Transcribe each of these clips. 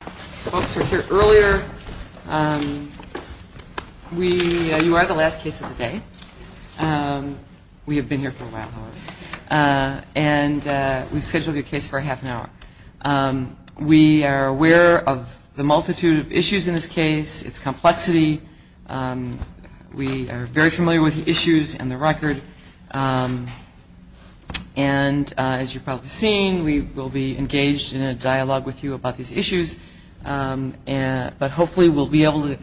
Folks who were here earlier, you are the last case of the day. We have been here for a while, however, and we've scheduled your case for a half an hour. We are aware of the multitude of issues in this case, its complexity. We are very familiar with the issues and the record. And as you've probably seen, we will be engaged in a dialogue with you about these issues, but hopefully we'll be able to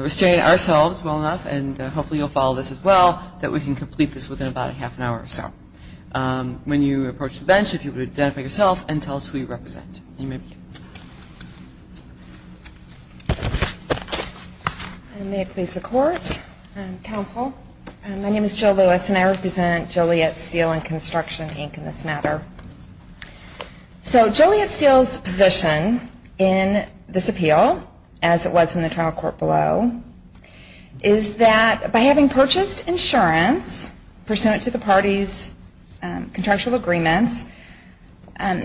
restrain ourselves well enough, and hopefully you'll follow this as well, that we can complete this within about a half an hour or so. When you approach the bench, if you would identify yourself and tell us who you represent. And may it please the Court. Counsel, my name is Jill Lewis and I represent Joliet Steel & Construction, Inc. in this matter. So Joliet Steel's position in this appeal, as it was in the trial court below, is that by having purchased insurance, pursuant to the parties' contractual agreements, in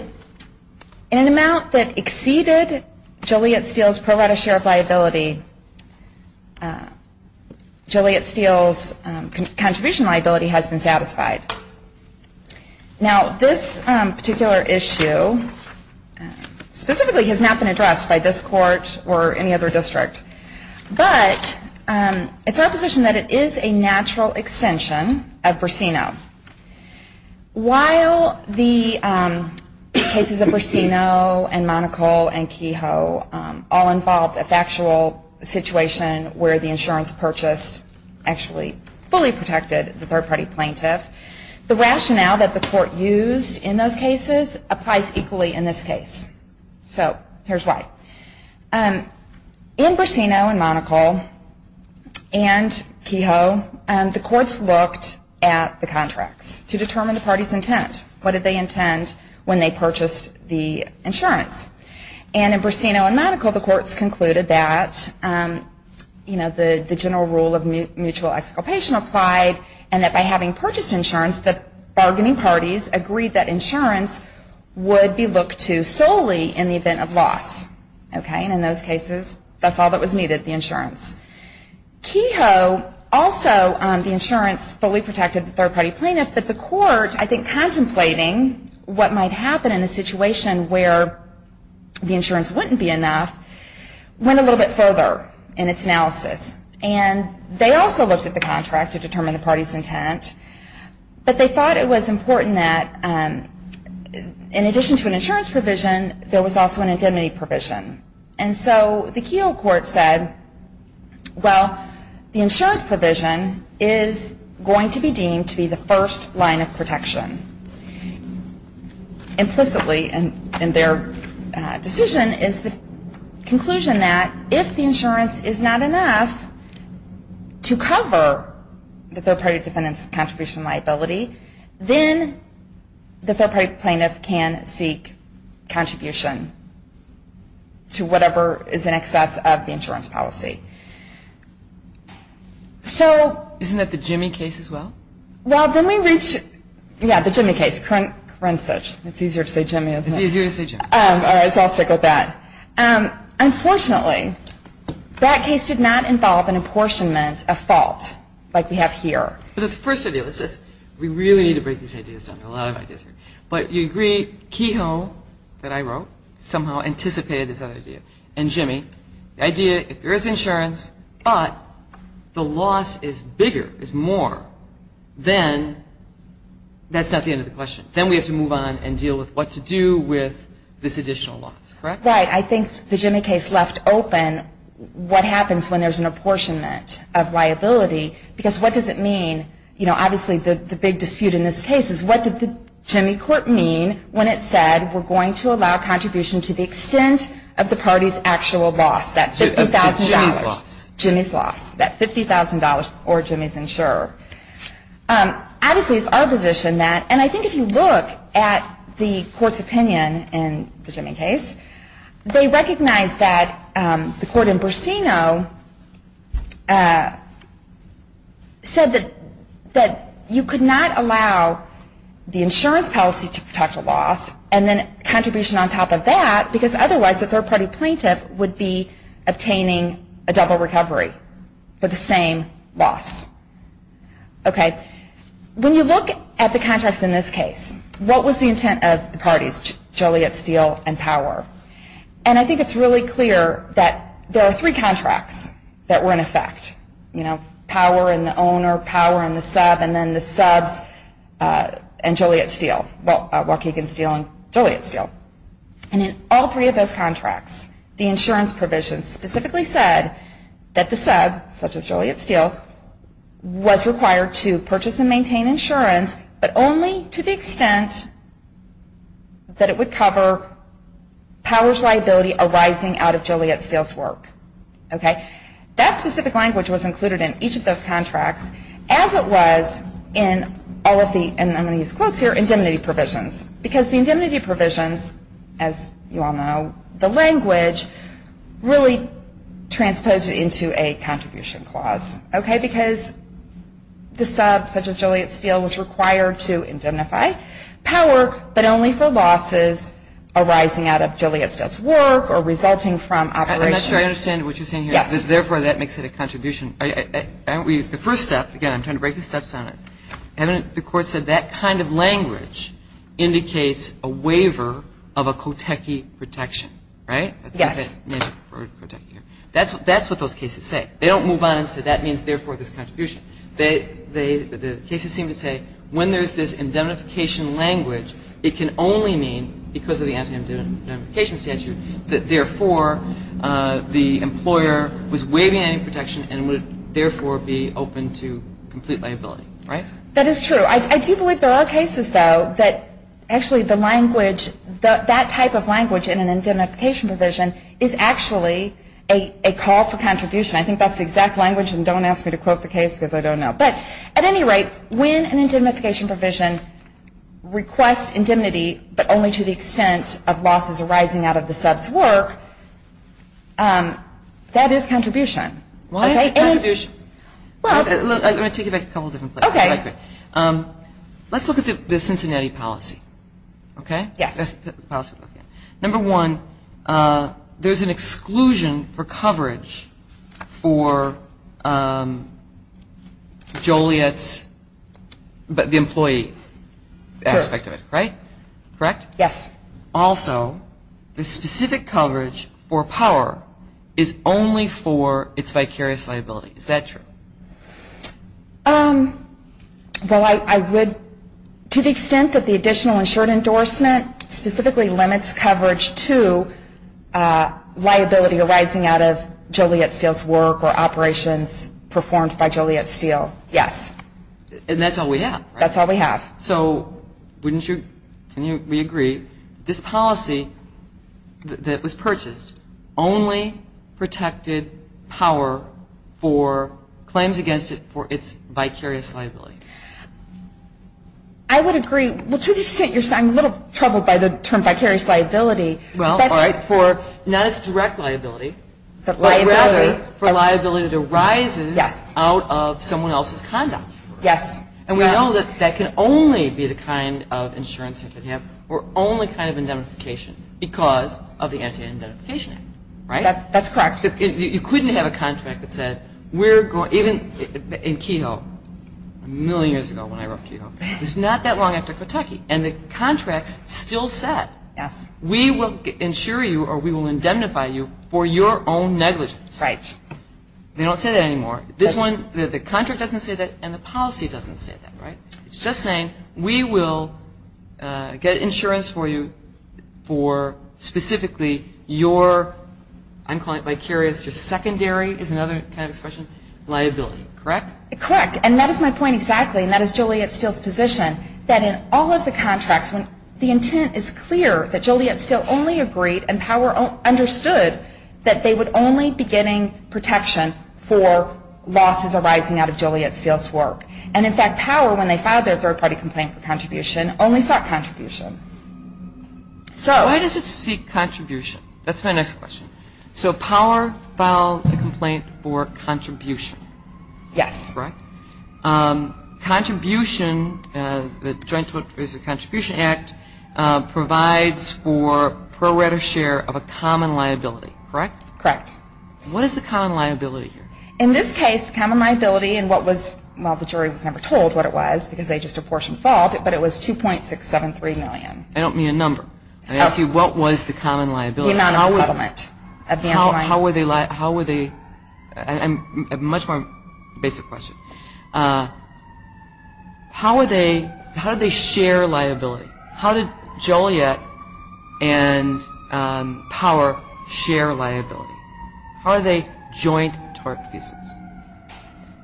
an amount that exceeded Joliet Steel's pro rata share of liability, Joliet Steel's contribution liability has been satisfied. Now this particular issue specifically has not been addressed by this court or any other district, but it's our position that it is a natural extension of Bracino. While the cases of Bracino and Monocle and Kehoe all involved a factual situation where the insurance purchased actually fully protected the third party plaintiff, the rationale that the court used in those cases applies equally in this case. So here's why. In Bracino and Monocle and Kehoe, the courts looked at the contracts to determine the parties' intent. What did they intend when they purchased the insurance? And in Bracino and Monocle, the courts concluded that the general rule of mutual exculpation applied, and that by having purchased insurance, the bargaining parties agreed that insurance would be looked to solely in the event of loss. And in those cases, that's all that was needed, the insurance. Kehoe also, the insurance fully protected the third party plaintiff, but the court, I think contemplating what might happen in a situation where the insurance wouldn't be enough, went a little bit further in its analysis. And they also looked at the contract to determine the parties' intent, but they thought it was important that in addition to an insurance provision, there was also an indemnity provision. And so the Kehoe court said, well, the insurance provision is going to be deemed to be the first line of protection. Implicitly in their decision is the conclusion that if the insurance is not enough to cover the third party defendant's contribution liability, then the third party plaintiff can seek contribution to whatever is in excess of the insurance policy. Isn't that the Jimmy case as well? Well, then we reach, yeah, the Jimmy case, current search. It's easier to say Jimmy, isn't it? It's easier to say Jimmy. All right, so I'll stick with that. Unfortunately, that case did not involve an apportionment of fault like we have here. The first idea was this. We really need to break these ideas down. There are a lot of ideas here. But you agree Kehoe, that I wrote, somehow anticipated this other idea, and Jimmy. The idea, if there is insurance, but the loss is bigger, is more, then that's not the end of the question. Then we have to move on and deal with what to do with this additional loss, correct? Right. I think the Jimmy case left open what happens when there's an apportionment of liability. Because what does it mean? You know, obviously the big dispute in this case is what did the Jimmy court mean when it said, we're going to allow contribution to the extent of the party's actual loss, that $50,000. Jimmy's loss. Jimmy's loss, that $50,000 or Jimmy's insurer. Obviously, it's our position that, and I think if you look at the court's opinion in the Jimmy case, they recognize that the court in Bursino said that you could not allow the insurance policy to protect a loss, and then contribution on top of that, because otherwise, a third party plaintiff would be obtaining a double recovery for the same loss. Okay. When you look at the contracts in this case, what was the intent of the parties, Joliet, Steele, and Power? And I think it's really clear that there are three contracts that were in effect. You know, Power and the owner, Power and the sub, and then the subs and Joliet, Steele, Waukegan, Steele, and Joliet, Steele. And in all three of those contracts, the insurance provision specifically said that the sub, such as Joliet, Steele, was required to purchase and maintain insurance, but only to the extent that it would cover Power's liability arising out of Joliet, Steele's work. Okay. That specific language was included in each of those contracts, as it was in all of the, and I'm going to use quotes here, indemnity provisions. Because the indemnity provisions, as you all know the language, really transposed it into a contribution clause, okay, because the sub, such as Joliet, Steele, was required to indemnify Power, but only for losses arising out of Joliet, Steele's work or resulting from operations. I'm not sure I understand what you're saying here. Yes. Therefore, that makes it a contribution. The first step, again, I'm trying to break the steps on it. The Court said that kind of language indicates a waiver of a Cotechi protection, right? Yes. That's what those cases say. They don't move on and say that means, therefore, this contribution. The cases seem to say when there's this indemnification language, it can only mean because of the anti-indemnification statute that, therefore, the employer was waiving any protection and would, therefore, be open to complete liability, right? That is true. I do believe there are cases, though, that actually the language, that type of language in an indemnification provision is actually a call for contribution. I think that's the exact language, and don't ask me to quote the case because I don't know. But at any rate, when an indemnification provision requests indemnity, but only to the extent of losses arising out of the sub's work, that is contribution. Why is it contribution? Let me take you back a couple of different places. Okay. Let's look at the Cincinnati policy, okay? Yes. Number one, there's an exclusion for coverage for Joliet's employee aspect of it, right? Correct? Yes. Also, the specific coverage for power is only for its vicarious liability. Is that true? Well, I would, to the extent that the additional insured endorsement specifically limits coverage to liability arising out of Joliet Steel's work or operations performed by Joliet Steel, yes. And that's all we have, right? That's all we have. So wouldn't you, can we agree, this policy that was purchased only protected power for claims against it for its vicarious liability? I would agree. Well, to the extent you're saying, I'm a little troubled by the term vicarious liability. Well, all right, for not its direct liability, but rather for liability that arises out of someone else's conduct. Yes. And we know that that can only be the kind of insurance you can have or only kind of indemnification because of the Anti-Indemnification Act, right? That's correct. You couldn't have a contract that says we're going, even in Kehoe, a million years ago when I wrote Kehoe, it's not that long after Kentucky, and the contract's still set. Yes. We will insure you or we will indemnify you for your own negligence. Right. They don't say that anymore. This one, the contract doesn't say that, and the policy doesn't say that, right? It's just saying we will get insurance for you for specifically your, I'm calling it vicarious, your secondary is another kind of expression, liability, correct? Correct. And that is my point exactly, and that is Joliet Steele's position, that in all of the contracts, when the intent is clear that Joliet Steele only agreed and power understood that they would only be getting protection for losses arising out of Joliet Steele's work. And, in fact, power, when they filed their third-party complaint for contribution, only sought contribution. So why does it seek contribution? That's my next question. So power filed a complaint for contribution. Yes. Correct? Contribution, the Joint Tort Profit and Contribution Act, provides for pro rata share of a common liability, correct? Correct. What is the common liability here? In this case, the common liability and what was, well, the jury was never told what it was because they just apportioned the fault, but it was $2.673 million. I don't need a number. I asked you what was the common liability. The amount of the settlement. How were they liable? A much more basic question. How did they share liability? How did Joliet and power share liability? How are they joint tort cases?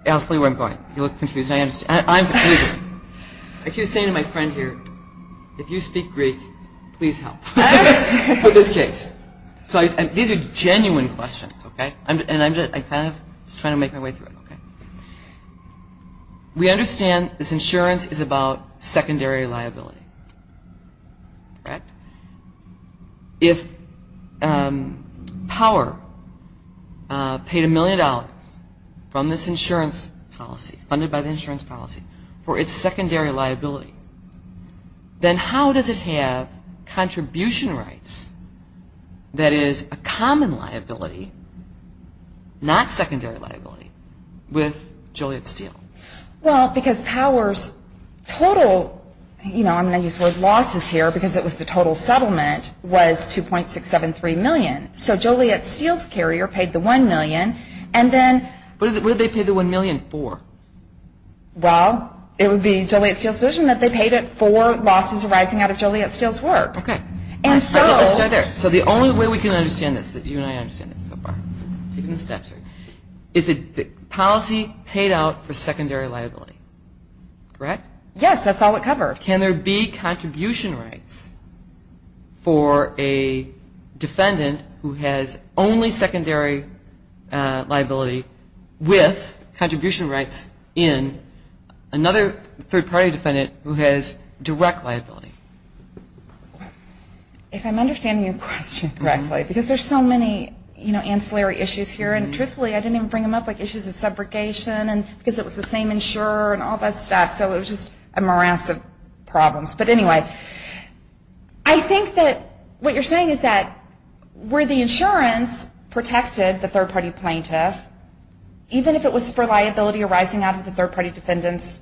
I'll tell you where I'm going. You look confused. I'm confused. I keep saying to my friend here, if you speak Greek, please help with this case. So these are genuine questions, okay? And I'm kind of just trying to make my way through it, okay? We understand this insurance is about secondary liability, correct? If power paid $1 million from this insurance policy, funded by the insurance policy, for its secondary liability, then how does it have contribution rights, that is a common liability, not secondary liability, with Joliet Steel? Well, because power's total, you know, I'm going to use the word losses here because it was the total settlement, was $2.673 million. So Joliet Steel's carrier paid the $1 million, and then... What did they pay the $1 million for? Well, it would be Joliet Steel's position that they paid it for losses arising out of Joliet Steel's work. Okay. And so... Let's start there. So the only way we can understand this, that you and I understand this so far, is that the policy paid out for secondary liability, correct? Yes, that's all it covered. Can there be contribution rights for a defendant who has only secondary liability with contribution rights in another third-party defendant who has direct liability? If I'm understanding your question correctly, because there's so many, you know, ancillary issues here, and truthfully, I didn't even bring them up, like issues of subrogation and because it was the same insurer and all that stuff, so it was just a morass of problems. But anyway, I think that what you're saying is that where the insurance protected the third-party plaintiff, even if it was for liability arising out of the third-party defendant's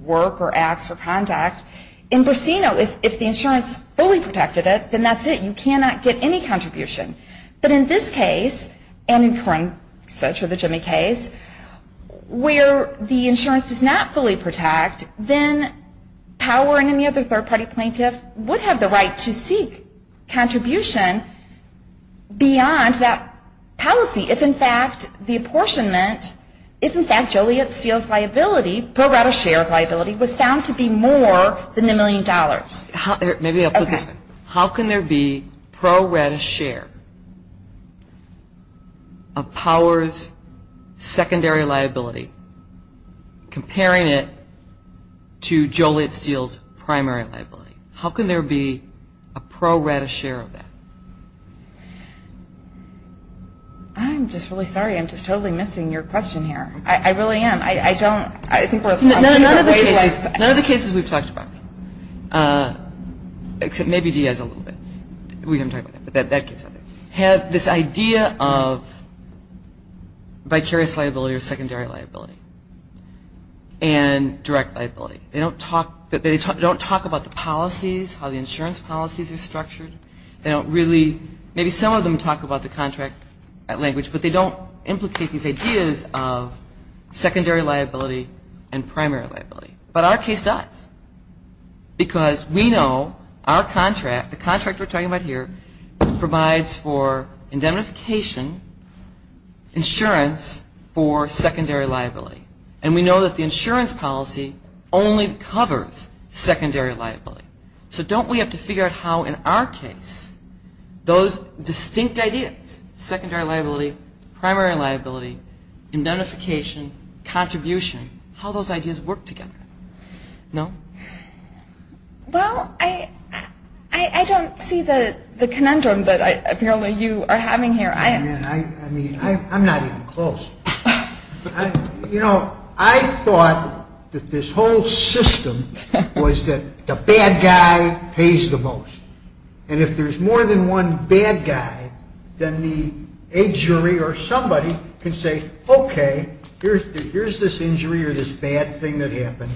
work or acts or conduct, in Bursino, if the insurance fully protected it, then that's it. You cannot get any contribution. But in this case, and in current such with the Jimmy case, where the insurance does not fully protect, then power in any other third-party plaintiff would have the right to seek contribution beyond that policy. If, in fact, the apportionment, if, in fact, Joliet-Steele's liability, pro rata share of liability, was found to be more than the million dollars. Maybe I'll put this, how can there be pro rata share of power's secondary liability comparing it to Joliet-Steele's primary liability? How can there be a pro rata share of that? I'm just really sorry. I'm just totally missing your question here. I really am. I don't, I think we're way off. None of the cases we've talked about, except maybe Diaz a little bit, we haven't talked about that, but that case, have this idea of vicarious liability or secondary liability and direct liability. They don't talk about the policies, how the insurance policies are structured. They don't really, maybe some of them talk about the contract language, but they don't implicate these ideas of secondary liability and primary liability. But our case does because we know our contract, the contract we're talking about here, provides for indemnification insurance for secondary liability. And we know that the insurance policy only covers secondary liability. So don't we have to figure out how in our case those distinct ideas, secondary liability, primary liability, indemnification, contribution, how those ideas work together? No? Well, I don't see the conundrum that apparently you are having here. I mean, I'm not even close. You know, I thought that this whole system was that the bad guy pays the most. And if there's more than one bad guy, then the jury or somebody can say, okay, here's this injury or this bad thing that happened.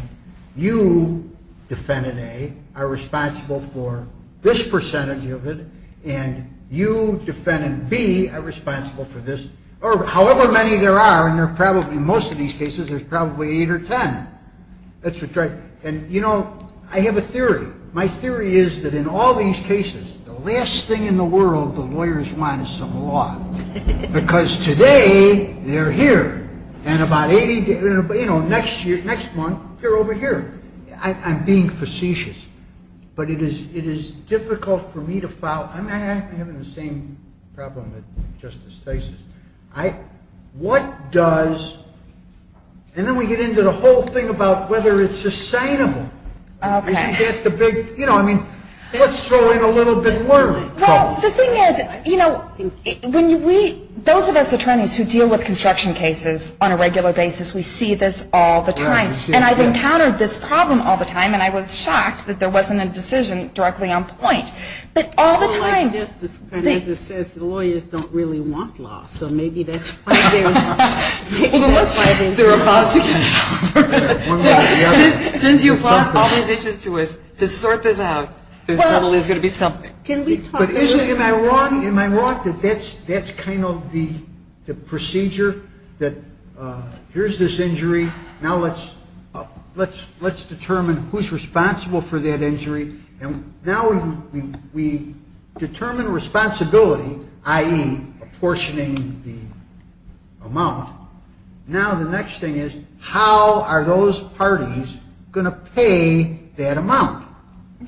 You, defendant A, are responsible for this percentage of it, and you, defendant B, are responsible for this, or however many there are, and in most of these cases there's probably eight or ten. That's what's right. And, you know, I have a theory. My theory is that in all these cases, the last thing in the world the lawyers want is some law. Because today they're here, and about 80, you know, next month they're over here. I'm being facetious. But it is difficult for me to file. I'm having the same problem that Justice Stasis. What does, and then we get into the whole thing about whether it's sustainable. You know, I mean, let's throw in a little bit more. Well, the thing is, you know, those of us attorneys who deal with construction cases on a regular basis, we see this all the time. And I've encountered this problem all the time, and I was shocked that there wasn't a decision directly on point. But all the time. Justice Stasis says the lawyers don't really want law, so maybe that's why there's. Maybe that's why there's. They're about to get it over with. Since you brought all these issues to us, to sort this out, there's going to be something. Can we talk. Am I wrong? That's kind of the procedure that here's this injury. Now let's determine who's responsible for that injury. And now we determine responsibility, i.e., apportioning the amount. Now the next thing is, how are those parties going to pay that amount?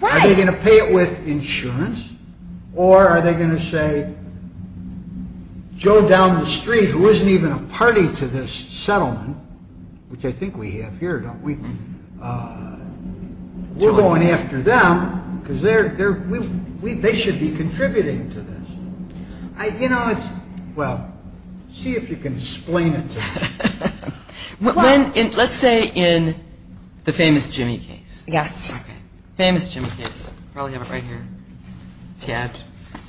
Are they going to pay it with insurance? Or are they going to say, Joe down the street, who isn't even a party to this settlement, which I think we have here, don't we? We're going after them because they should be contributing to this. Well, see if you can explain it to me. Let's say in the famous Jimmy case. Yes. Okay. Famous Jimmy case. I probably have it right here tabbed.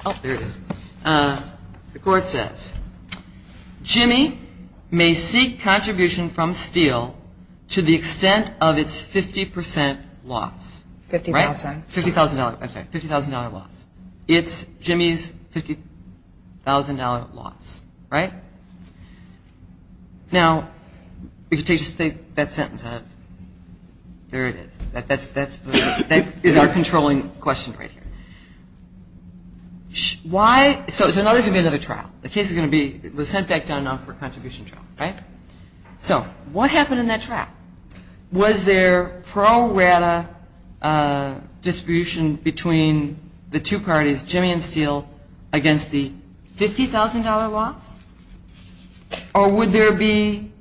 Oh, there it is. The court says, Jimmy may seek contribution from Steele to the extent of its 50 percent loss. $50,000. $50,000. I'm sorry. $50,000 loss. It's Jimmy's $50,000 loss. Right? Now if you take just that sentence out of it, there it is. That is our controlling question right here. Why? So there's going to be another trial. The case is going to be sent back down for a contribution trial. Right? So what happened in that trial? Was there pro rata distribution between the two parties, Jimmy and Steele, against the $50,000 loss? Or would there be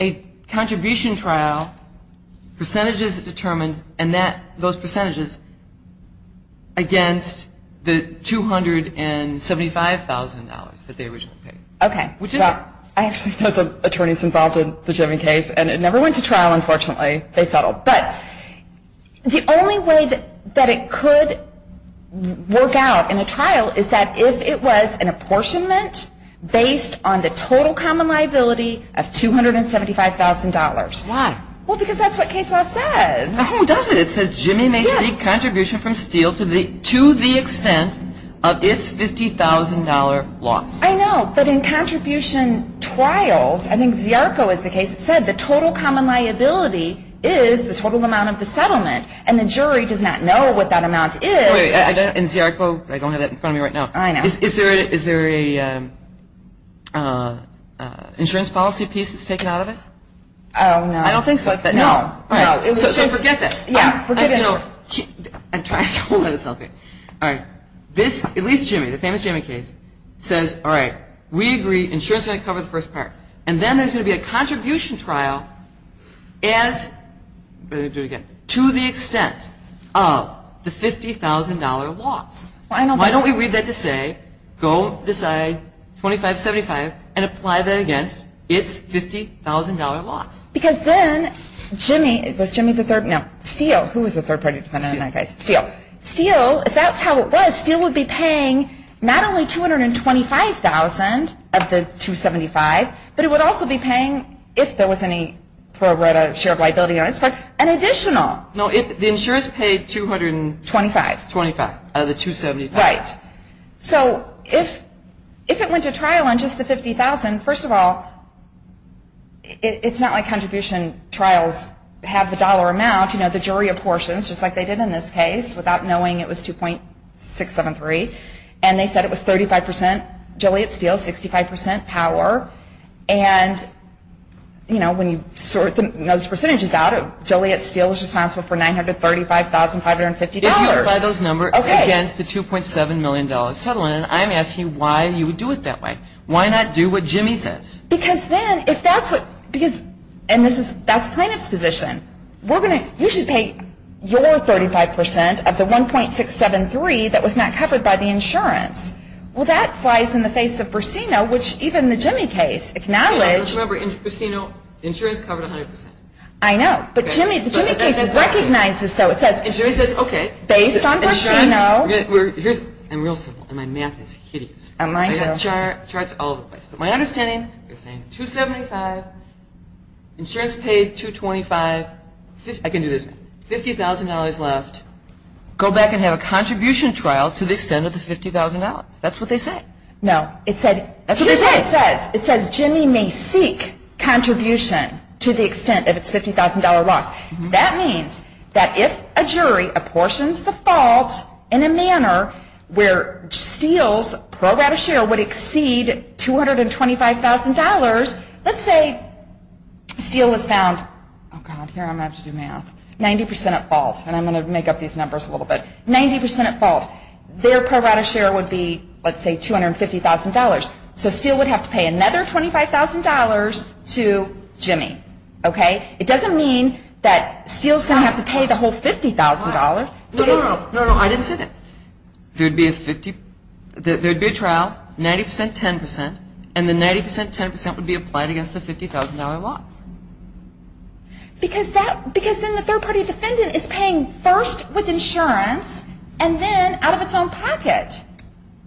a contribution trial, percentages determined, and those percentages against the $275,000 that they originally paid? Okay. I actually know the attorneys involved in the Jimmy case, and it never went to trial, unfortunately. They settled. But the only way that it could work out in a trial is that if it was an apportionment based on the total common liability of $275,000. Why? Well, because that's what case law says. No, it doesn't. It says, Jimmy may seek contribution from Steele to the extent of its $50,000 loss. I know, but in contribution trials, I think Ziarco is the case, it said the total common liability is the total amount of the settlement, and the jury does not know what that amount is. And Ziarco, I don't have that in front of me right now. I know. Is there an insurance policy piece that's taken out of it? I don't know. I don't think so. No. So forget that. Yeah, forget it. I'm trying to hold on to something. All right. This, at least Jimmy, the famous Jimmy case, says, all right, we agree insurance is going to cover the first part, and then there's going to be a contribution trial to the extent of the $50,000 loss. Why don't we read that to say, go decide 2575 and apply that against its $50,000 loss? Because then Jimmy, was Jimmy the third? No, Steele. Who was the third party defendant in that case? Steele. Steele. If that's how it was, Steele would be paying not only $225,000 of the 275, but it would also be paying, if there was any share of liability on its part, an additional. No, the insurance paid $225,000. $225,000 of the 275. Right. So if it went to trial on just the $50,000, first of all, it's not like contribution trials have the dollar amount. You know, the jury apportions, just like they did in this case, without knowing it was 2.673, and they said it was 35% Joliet-Steele, 65% power. And, you know, when you sort those percentages out, Joliet-Steele is responsible for $935,550. If you apply those numbers against the $2.7 million settlement, I'm asking why you would do it that way. Why not do what Jimmy says? Because then, if that's what, because, and this is, that's plaintiff's position. We're going to, you should pay your 35% of the 1.673 that was not covered by the insurance. Well, that flies in the face of Burcino, which even the Jimmy case acknowledged. Remember, in Burcino, insurance covered 100%. I know, but Jimmy, the Jimmy case recognizes, though, it says. And Jimmy says, okay. Based on Burcino. Here's, I'm real simple, and my math is hideous. And mine too. I've got charts all over the place. But my understanding, they're saying $2.75, insurance paid $2.25, I can do this, $50,000 left. Go back and have a contribution trial to the extent of the $50,000. That's what they say. No, it said, that's what they say. Here's what it says. It says Jimmy may seek contribution to the extent of its $50,000 loss. That means that if a jury apportions the fault in a manner where Steele's pro rata share would exceed $225,000, let's say Steele was found, oh God, here I'm going to have to do math, 90% at fault. And I'm going to make up these numbers a little bit. 90% at fault. Their pro rata share would be, let's say, $250,000. So Steele would have to pay another $25,000 to Jimmy. It doesn't mean that Steele's going to have to pay the whole $50,000. No, no, no. I didn't say that. There would be a trial, 90%, 10%, and the 90%, 10% would be applied against the $50,000 loss. Because then the third party defendant is paying first with insurance and then out of its own pocket.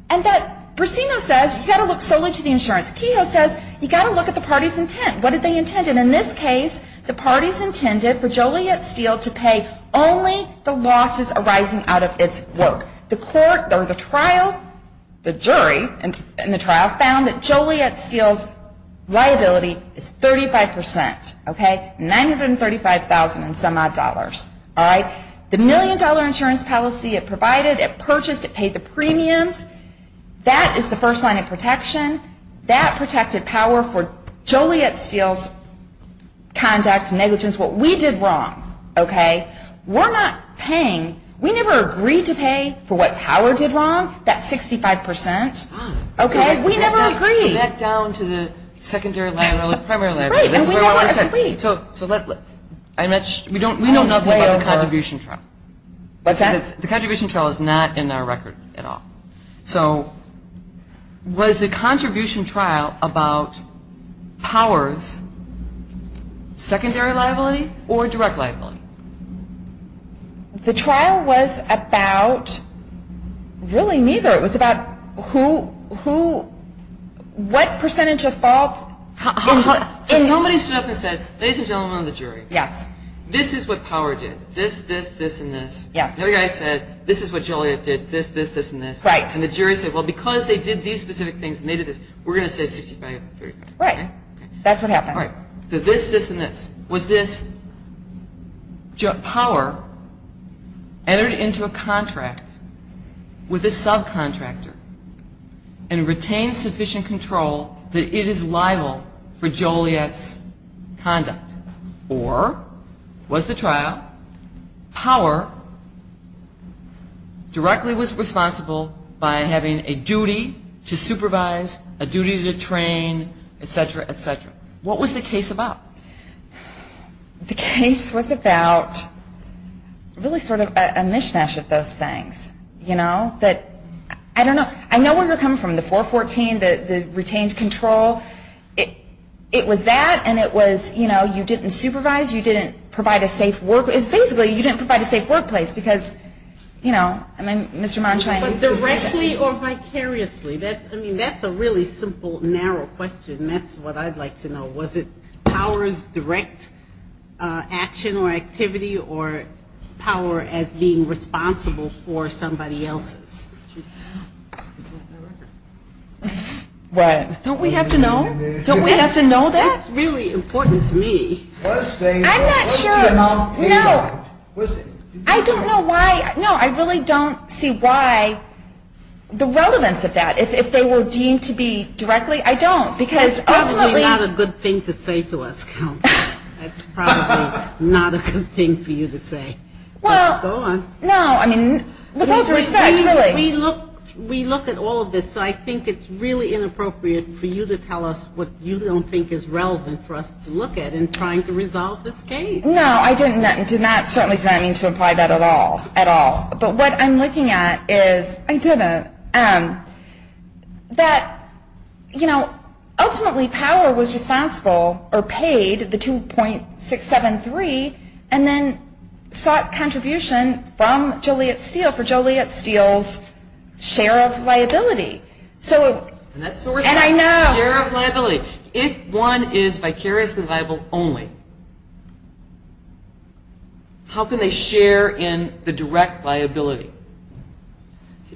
And that Brasino says, you've got to look solely to the insurance. Kehoe says, you've got to look at the party's intent. What did they intend? And in this case, the party's intended for Joliet Steele to pay only the losses arising out of its work. The court, or the trial, the jury in the trial, found that Joliet Steele's liability is 35%. $935,000 and some odd dollars. The million dollar insurance policy it provided, it purchased, it paid the premiums. That is the first line of protection. That protected power for Joliet Steele's conduct, negligence, what we did wrong. Okay? We're not paying. We never agreed to pay for what Power did wrong, that 65%. Okay? We never agreed. Back down to the secondary liability, primary liability. Right. And we know what we said. So let's, we know nothing about the contribution trial. What's that? The contribution trial is not in our record at all. So was the contribution trial about Power's secondary liability or direct liability? The trial was about, really, neither. It was about who, what percentage of fault. Somebody stood up and said, ladies and gentlemen of the jury. Yes. This is what Power did. This, this, this, and this. Yes. The other guy said this is what Joliet did. This, this, this, and this. Right. And the jury said, well, because they did these specific things and they did this, we're going to say 65%. Right. That's what happened. All right. The this, this, and this. Was this Power entered into a contract with a subcontractor and retained sufficient control that it is liable for Joliet's conduct? Or was the trial, Power directly was responsible by having a duty to supervise, a duty to train, et cetera, et cetera. What was the case about? The case was about really sort of a mishmash of those things. You know, that, I don't know. I know where you're coming from. The 414, the retained control. It was that and it was, you know, you didn't supervise, you didn't provide a safe workplace. Basically, you didn't provide a safe workplace because, you know, I mean, Mr. Monsheim. But directly or vicariously? I mean, that's a really simple, narrow question. That's what I'd like to know. Was it Power's direct action or activity or Power as being responsible for somebody else's? Don't we have to know? Don't we have to know that? That's really important to me. I'm not sure. No. I don't know why. No, I really don't see why the relevance of that. If they were deemed to be directly, I don't. Because ultimately. That's probably not a good thing to say to us, Counsel. That's probably not a good thing for you to say. Well. Go on. No, I mean, with all due respect, really. We look at all of this, so I think it's really inappropriate for you to tell us what you don't think is relevant for us to look at in trying to resolve this case. No, I did not. Certainly did not mean to imply that at all. But what I'm looking at is that, you know, ultimately Power was responsible or paid the 2.673 and then sought contribution from Joliet Steel for Joliet Steel's share of liability. And I know. Share of liability. If one is vicariously liable only, how can they share in the direct liability?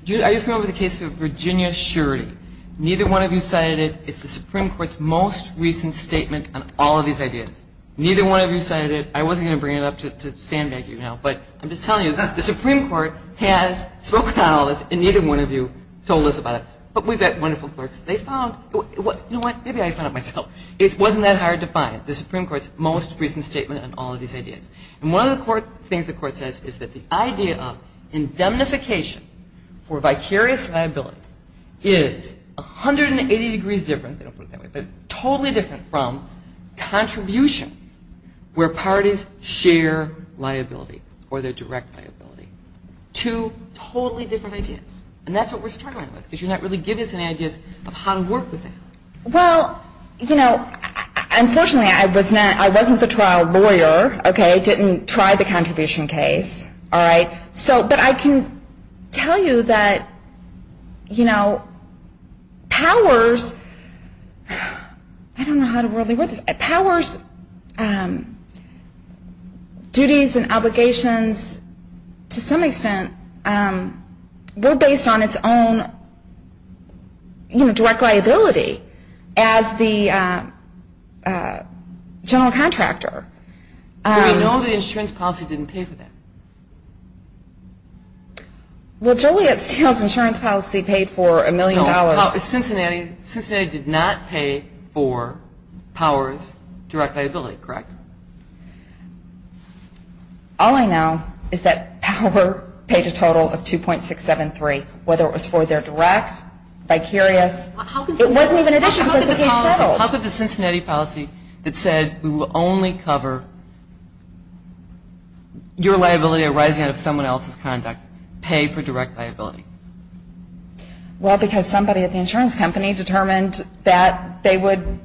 Are you familiar with the case of Virginia Surety? Neither one of you cited it. It's the Supreme Court's most recent statement on all of these ideas. Neither one of you cited it. I wasn't going to bring it up to sandbag you now, but I'm just telling you, the Supreme Court has spoken on all this, and neither one of you told us about it. But we've got wonderful clerks. They found it. You know what? Maybe I found it myself. It wasn't that hard to find. The Supreme Court's most recent statement on all of these ideas. And one of the things the Court says is that the idea of indemnification for vicarious liability is 180 degrees different, they don't put it that way, but totally different from contribution, where parties share liability or their direct liability, two totally different ideas. And that's what we're struggling with, because you're not really giving us any ideas of how to work with that. Well, you know, unfortunately, I wasn't the trial lawyer, okay? I didn't try the contribution case, all right? But I can tell you that powers duties and obligations, to some extent, were based on its own direct liability as the general contractor. We know the insurance policy didn't pay for that. Well, Joliet Steel's insurance policy paid for a million dollars. No, Cincinnati did not pay for powers direct liability, correct? All I know is that power paid a total of $2.673, whether it was for their direct, vicarious. It wasn't even additional because the case settled. How could the Cincinnati policy that said we will only cover your liability arising out of someone else's conduct pay for direct liability? Well, because somebody at the insurance company determined that they would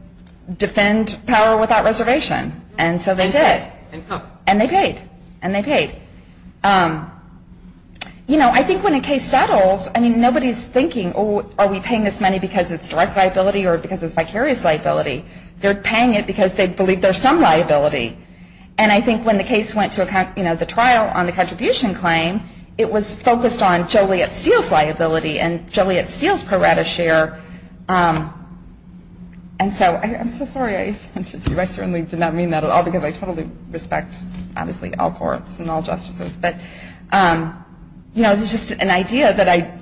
defend power without reservation. And so they did. And how? And they paid. And they paid. You know, I think when a case settles, I mean, nobody's thinking, oh, are we paying this money because it's direct liability or because it's vicarious liability? They're paying it because they believe there's some liability. And I think when the case went to the trial on the contribution claim, it was focused on Joliet Steel's liability and Joliet Steel's pro rata share. And so I'm so sorry I offended you. I certainly did not mean that at all because I totally respect, obviously, all courts and all justices. But, you know, it was just an idea that I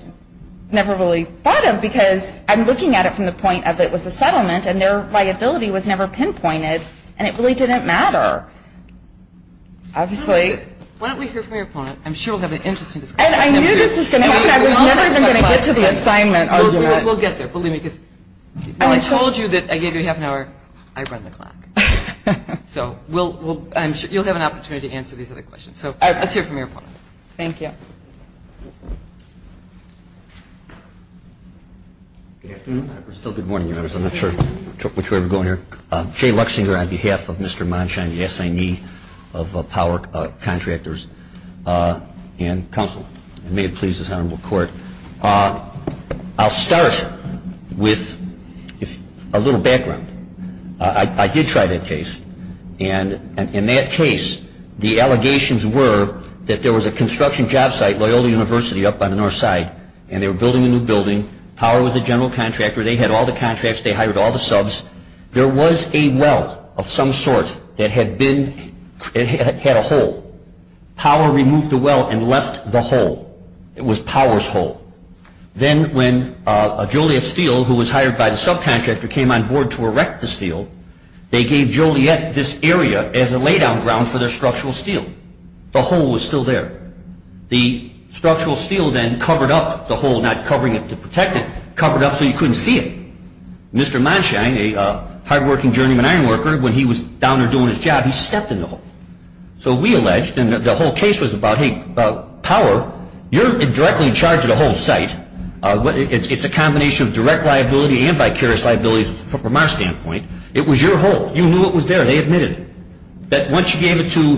never really thought of because I'm looking at it from the point of it was a settlement and their liability was never pinpointed and it really didn't matter, obviously. Why don't we hear from your opponent? I'm sure we'll have an interesting discussion. And I knew this was going to happen. I was never even going to get to the assignment argument. We'll get there. Believe me, because when I told you that I gave you half an hour, I run the clock. So you'll have an opportunity to answer these other questions. So let's hear from your opponent. Thank you. Good afternoon. Still good morning, Your Honors. I'm not sure which way we're going here. Jay Luxinger on behalf of Mr. Monshon, the assignee of power contractors and counsel. And may it please this Honorable Court. I'll start with a little background. I did try that case. And in that case, the allegations were that there was a construction job site, Loyola University up on the north side, and they were building a new building. Power was the general contractor. They had all the contracts. They hired all the subs. There was a well of some sort that had a hole. Power removed the well and left the hole. It was Power's hole. Then when Joliet Steel, who was hired by the subcontractor, came on board to erect the steel, they gave Joliet this area as a lay-down ground for their structural steel. The hole was still there. The structural steel then covered up the hole, not covering it to protect it, covered up so you couldn't see it. Mr. Monshon, a hard-working journeyman ironworker, when he was down there doing his job, he stepped in the hole. So we alleged, and the whole case was about, hey, Power, you're directly in charge of the whole site. It's a combination of direct liability and vicarious liability from our standpoint. It was your hole. You knew it was there. They admitted it. That once you gave it to,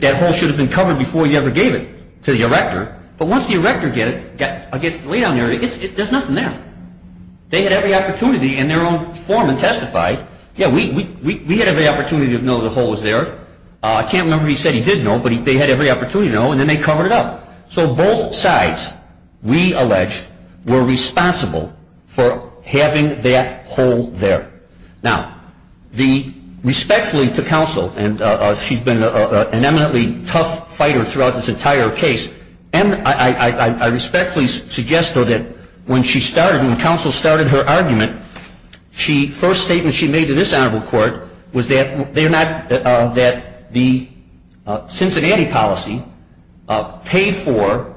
that hole should have been covered before you ever gave it to the erector. But once the erector got it against the lay-down area, there's nothing there. They had every opportunity in their own form and testified. Yeah, we had every opportunity to know the hole was there. I can't remember if he said he did know, but they had every opportunity to know, and then they covered it up. So both sides, we alleged, were responsible for having that hole there. Now, the respectfully to counsel, and she's been an eminently tough fighter throughout this entire case, and I respectfully suggest, though, that when she started, when counsel started her argument, the first statement she made to this honorable court was that the Cincinnati policy paid for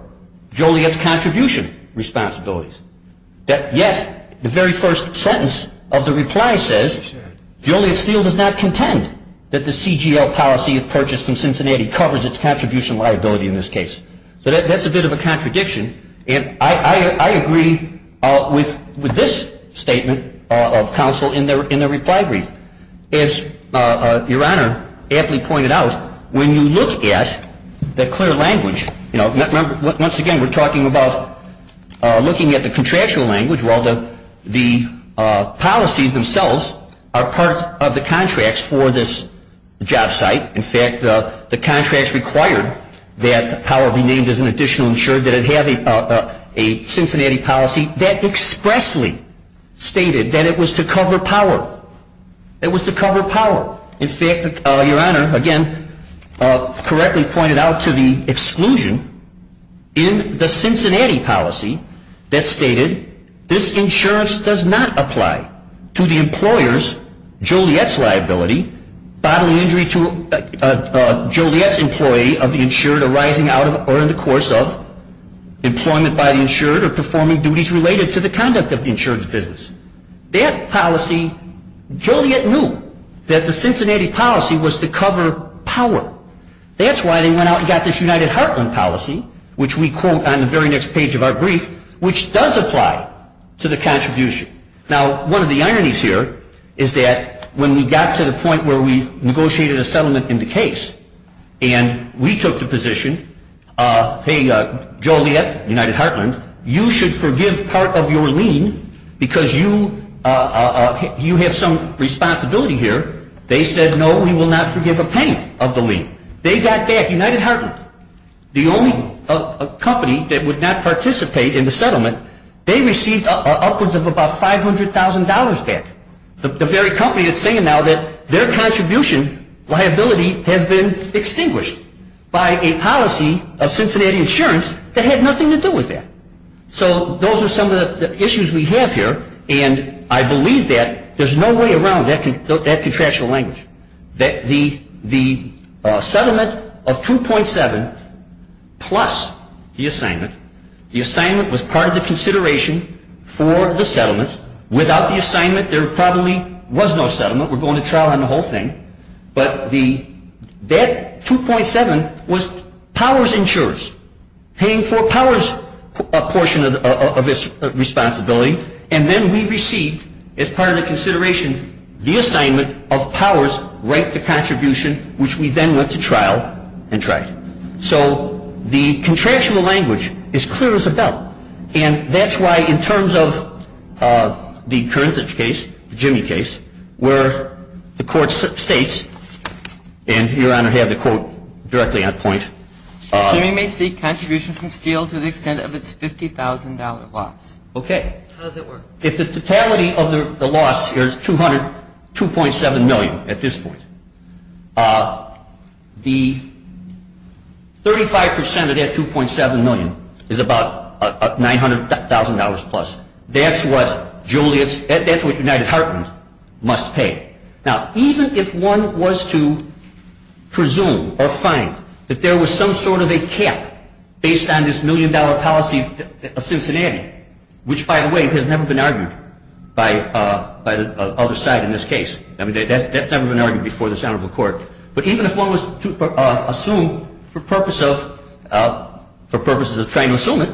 Joliet's contribution responsibilities. Yet, the very first sentence of the reply says, Joliet Steel does not contend that the CGL policy purchased from Cincinnati covers its contribution liability in this case. So that's a bit of a contradiction. And I agree with this statement of counsel in the reply brief. As Your Honor aptly pointed out, when you look at the clear language, you know, once again, we're talking about looking at the contractual language. Well, the policies themselves are part of the contracts for this job site. In fact, the contracts required that the power be named as an additional insurer, that it have a Cincinnati policy that expressly stated that it was to cover power. It was to cover power. In fact, Your Honor, again, correctly pointed out to the exclusion in the Cincinnati policy that stated, this insurance does not apply to the employer's, Joliet's liability, bodily injury to Joliet's employee of the insured arising out of or in the course of employment by the insured or performing duties related to the conduct of the insured's business. That policy, Joliet knew that the Cincinnati policy was to cover power. That's why they went out and got this United Heartland policy, which we quote on the very next page of our brief, which does apply to the contribution. Now, one of the ironies here is that when we got to the point where we negotiated a settlement in the case and we took the position, hey, Joliet, United Heartland, you should forgive part of your lien because you have some responsibility here. They said, no, we will not forgive a penny of the lien. They got back United Heartland, the only company that would not participate in the settlement. They received upwards of about $500,000 back. The very company is saying now that their contribution liability has been extinguished by a policy of Cincinnati insurance that had nothing to do with that. So those are some of the issues we have here. And I believe that there's no way around that contractual language. The settlement of 2.7 plus the assignment, the assignment was part of the consideration for the settlement. Without the assignment, there probably was no settlement. We're going to trial on the whole thing. But that 2.7 was powers insurers paying for powers portion of its responsibility. And then we received, as part of the consideration, the assignment of powers right to contribution, which we then went to trial and tried. So the contractual language is clear as a bell. And that's why in terms of the Kern's case, the Jimmy case, where the Court states, and Your Honor had the quote directly on point. Jimmy may seek contribution from Steele to the extent of its $50,000 loss. Okay. How does that work? If the totality of the loss here is $200,000, $2.7 million at this point, the 35% of that $2.7 million is about $900,000 plus. That's what Joliet's, that's what United Heartland must pay. Now, even if one was to presume or find that there was some sort of a cap based on this million-dollar policy of Cincinnati, which, by the way, has never been argued by the other side in this case. I mean, that's never been argued before this Honorable Court. But even if one was to assume for purposes of trying to assume it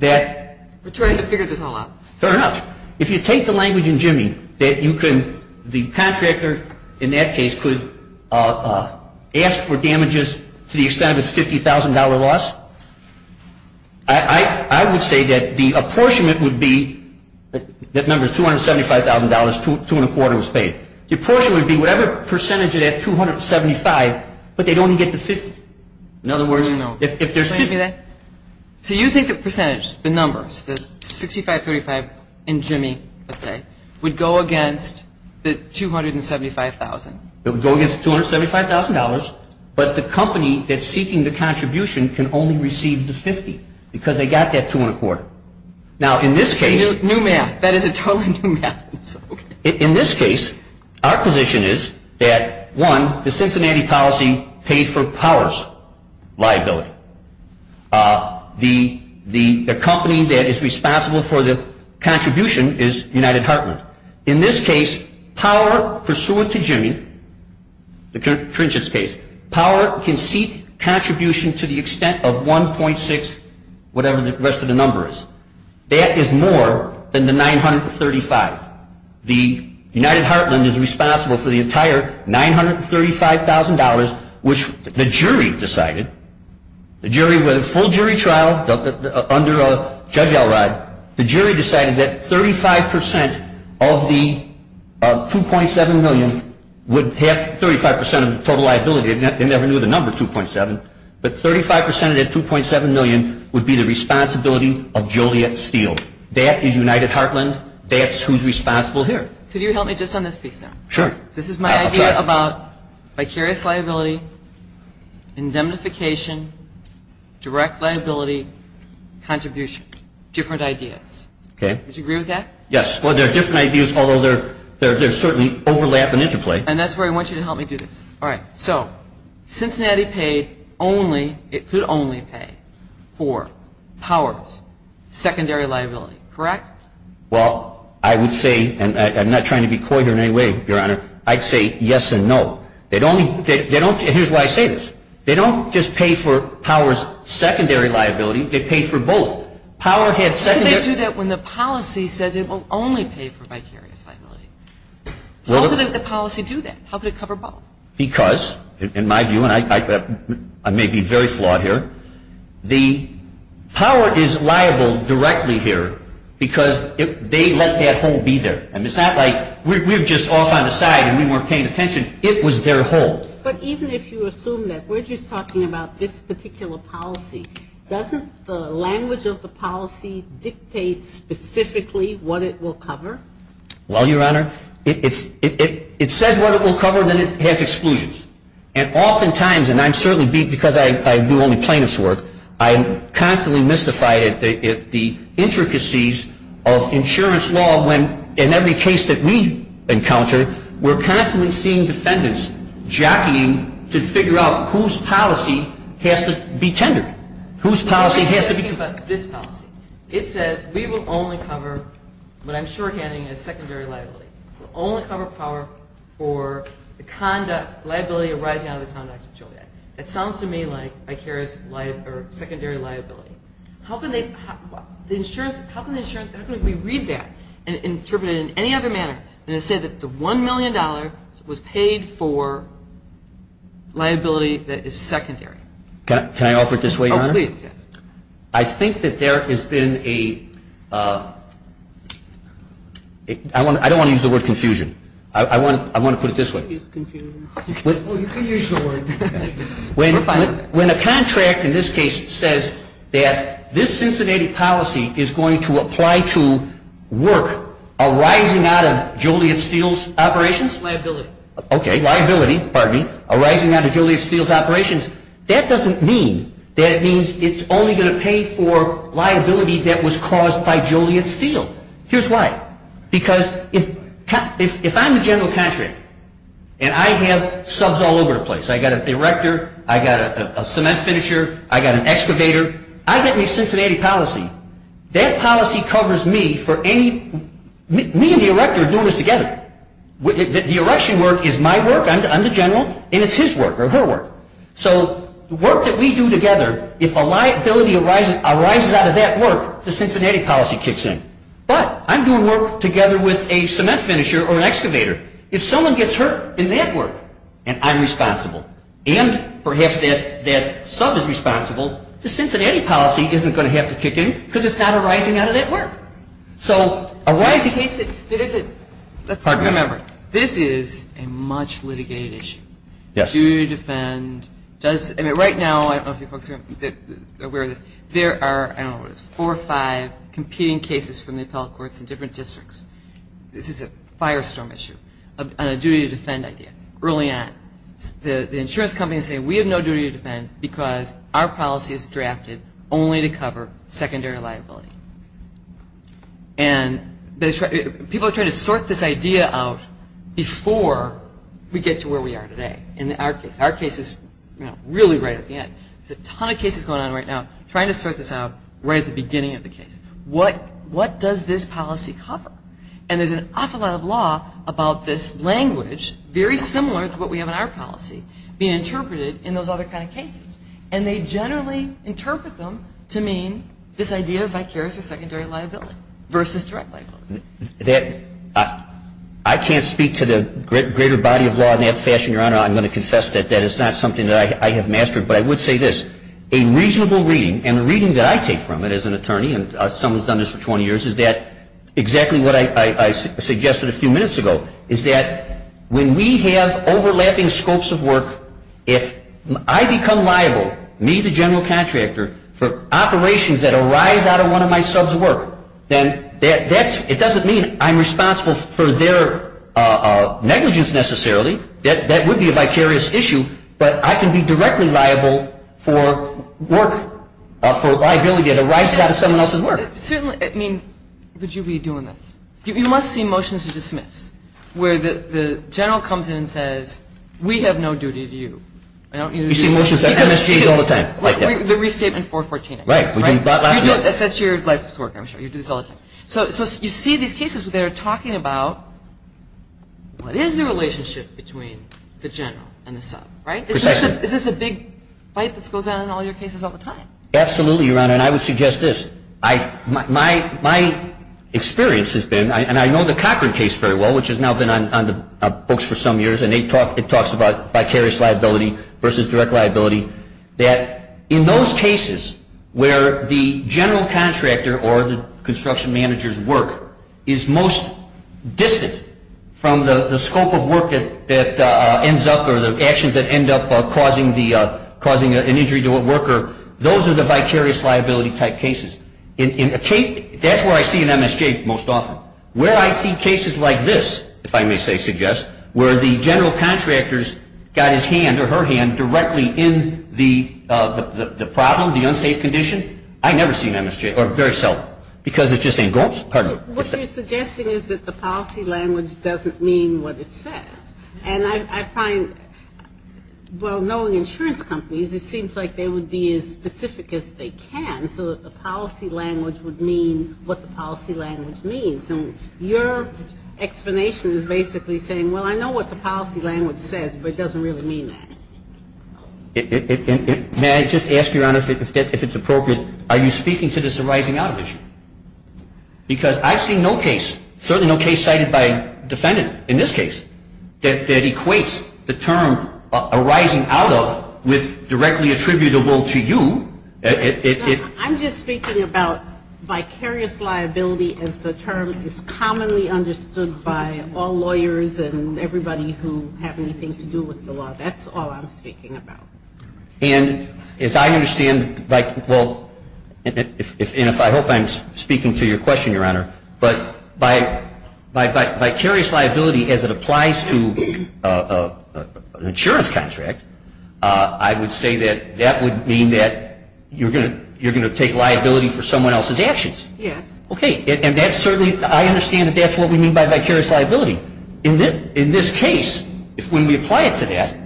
that. We're trying to figure this all out. Fair enough. If you take the language in Jimmy that you can, the contractor in that case could ask for damages to the extent of its $50,000 loss, I would say that the apportionment would be, that number is $275,000, two and a quarter was paid. The apportionment would be whatever percentage of that 275, but they'd only get the 50. In other words, if there's 50. Okay. So you think the percentage, the numbers, the 65, 35 in Jimmy, let's say, would go against the $275,000? It would go against the $275,000, but the company that's seeking the contribution can only receive the 50 because they got that two and a quarter. Now, in this case. New math. That is a totally new math. In this case, our position is that, one, the Cincinnati policy paid for powers liability. The company that is responsible for the contribution is United Heartland. In this case, power pursuant to Jimmy, the Trinchet's case, power can seek contribution to the extent of 1.6, whatever the rest of the number is. That is more than the 935. The United Heartland is responsible for the entire $935,000, which the jury decided, the jury with a full jury trial under Judge Elrod, the jury decided that 35% of the 2.7 million would have 35% of the total liability. They never knew the number 2.7, but 35% of that 2.7 million would be the responsibility of Joliet Steel. That is United Heartland. That's who's responsible here. Could you help me just on this piece now? Sure. This is my idea about vicarious liability, indemnification, direct liability, contribution. Different ideas. Okay. Would you agree with that? Yes. Well, they're different ideas, although they certainly overlap and interplay. And that's where I want you to help me do this. All right. So Cincinnati paid only, it could only pay for Powers' secondary liability, correct? Well, I would say, and I'm not trying to be coy here in any way, Your Honor. I'd say yes and no. They don't, here's why I say this. They don't just pay for Powers' secondary liability. They pay for both. Powers had secondary. How could they do that when the policy says it will only pay for vicarious liability? How could the policy do that? How could it cover both? Because, in my view, and I may be very flawed here, the power is liable directly here because they let that hole be there. And it's not like we're just off on the side and we weren't paying attention. It was their hole. But even if you assume that we're just talking about this particular policy, doesn't the language of the policy dictate specifically what it will cover? Well, Your Honor, it says what it will cover, then it has exclusions. And oftentimes, and I'm certainly beat because I do only plaintiff's work, I am constantly mystified at the intricacies of insurance law when, in every case that we encounter, we're constantly seeing defendants jockeying to figure out whose policy has to be tendered. Whose policy has to be tendered. It says we will only cover what I'm shorthanding as secondary liability. We'll only cover power for the liability arising out of the Conduct Control Act. That sounds to me like vicarious secondary liability. How can we read that and interpret it in any other manner than to say that the $1 million was paid for liability that is secondary? I think that there has been a, I don't want to use the word confusion. I want to put it this way. Well, you can use the word confusion. When a contract in this case says that this Cincinnati policy is going to apply to work arising out of Joliet Steel's operations? Liability. Okay, liability, pardon me, arising out of Joliet Steel's operations. That doesn't mean that it means it's only going to pay for liability that was caused by Joliet Steel. Here's why. Because if I'm the general contractor and I have subs all over the place, I've got an erector, I've got a cement finisher, I've got an excavator, I get me Cincinnati policy. That policy covers me for any, me and the erector are doing this together. The erection work is my work, I'm the general, and it's his work or her work. So the work that we do together, if a liability arises out of that work, the Cincinnati policy kicks in. But I'm doing work together with a cement finisher or an excavator. If someone gets hurt in that work and I'm responsible and perhaps that sub is responsible, the Cincinnati policy isn't going to have to kick in because it's not arising out of that work. All right. So a rising case that isn't, let's remember, this is a much litigated issue. Duty to defend does, I mean, right now, I don't know if you folks are aware of this, there are, I don't know what it is, four or five competing cases from the appellate courts in different districts. This is a firestorm issue and a duty to defend idea. Early on, the insurance companies say we have no duty to defend because our policy is drafted only to cover secondary liability. And people are trying to sort this idea out before we get to where we are today in our case. Our case is really right at the end. There's a ton of cases going on right now trying to sort this out right at the beginning of the case. What does this policy cover? And there's an awful lot of law about this language, very similar to what we have in our policy, being interpreted in those other kind of cases. And they generally interpret them to mean this idea of vicarious or secondary liability versus direct liability. I can't speak to the greater body of law in that fashion, Your Honor. I'm going to confess that that is not something that I have mastered. But I would say this. A reasonable reading, and the reading that I take from it as an attorney, and someone's done this for 20 years, is that exactly what I suggested a few minutes ago, is that when we have overlapping scopes of work, if I become liable, me the general contractor, for operations that arise out of one of my sub's work, then it doesn't mean I'm responsible for their negligence necessarily. That would be a vicarious issue. But I can be directly liable for work, for liability that arises out of someone else's work. Certainly, I mean, would you be doing this? You must see motions to dismiss, where the general comes in and says, we have no duty to you. You see motions like MSGs all the time. The restatement 414. Right. That's your life's work, I'm sure. You do this all the time. So you see these cases where they're talking about, what is the relationship between the general and the sub, right? Is this the big fight that goes on in all your cases all the time? Absolutely, Your Honor. And I would suggest this. My experience has been, and I know the Cochran case very well, which has now been on the books for some years, and it talks about vicarious liability versus direct liability, that in those cases where the general contractor or the construction manager's work is most distant from the scope of work that ends up or the actions that end up causing an injury to a worker, those are the vicarious liability type cases. That's where I see an MSJ most often. Where I see cases like this, if I may say suggest, where the general contractor's got his hand or her hand directly in the problem, the unsafe condition, I never see an MSJ, or very seldom, because it's just a ghost. What you're suggesting is that the policy language doesn't mean what it says. And I find, well, knowing insurance companies, it seems like they would be as specific as they can, so the policy language would mean what the policy language means. And your explanation is basically saying, well, I know what the policy language says, but it doesn't really mean that. May I just ask, Your Honor, if it's appropriate, are you speaking to this arising out of issue? Because I've seen no case, certainly no case cited by a defendant in this case, that equates the term arising out of with directly attributable to you. I'm just speaking about vicarious liability as the term is commonly understood by all lawyers and everybody who have anything to do with the law. That's all I'm speaking about. And as I understand, like, well, and I hope I'm speaking to your question, Your Honor, but vicarious liability as it applies to an insurance contract, I would say that that would mean that you're going to take liability for someone else's actions. Yes. Okay. And that's certainly, I understand that that's what we mean by vicarious liability. In this case, when we apply it to that,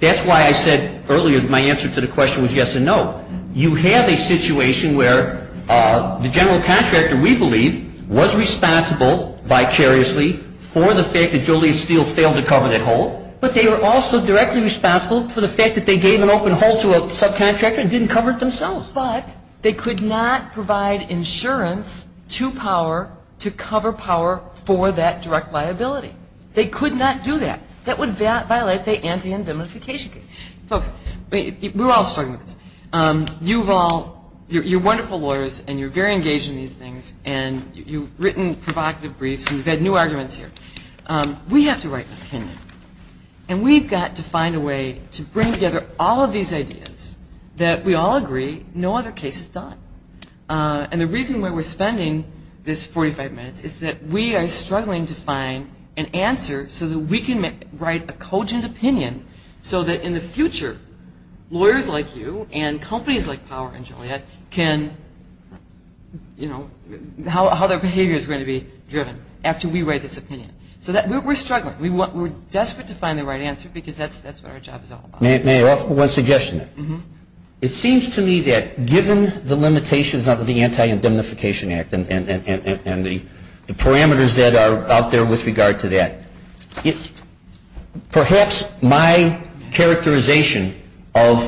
that's why I said earlier my answer to the question was yes and no. You have a situation where the general contractor, we believe, was responsible vicariously for the fact that Joliet Steel failed to cover that hole, but they were also directly responsible for the fact that they gave an open hole to a subcontractor and didn't cover it themselves. But they could not provide insurance to power to cover power for that direct liability. They could not do that. That would violate the anti-indemnification case. Folks, we're all struggling with this. You've all, you're wonderful lawyers, and you're very engaged in these things, and you've written provocative briefs, and you've had new arguments here. We have to write an opinion, and we've got to find a way to bring together all of these ideas that we all agree no other case has done. And the reason why we're spending this 45 minutes is that we are struggling to find an answer so that we can write a cogent opinion so that in the future lawyers like you and companies like Power and Joliet can, you know, how their behavior is going to be driven after we write this opinion. So we're struggling. We're desperate to find the right answer because that's what our job is all about. May I offer one suggestion? It seems to me that given the limitations of the Anti-Indemnification Act and the parameters that are out there with regard to that, perhaps my characterization of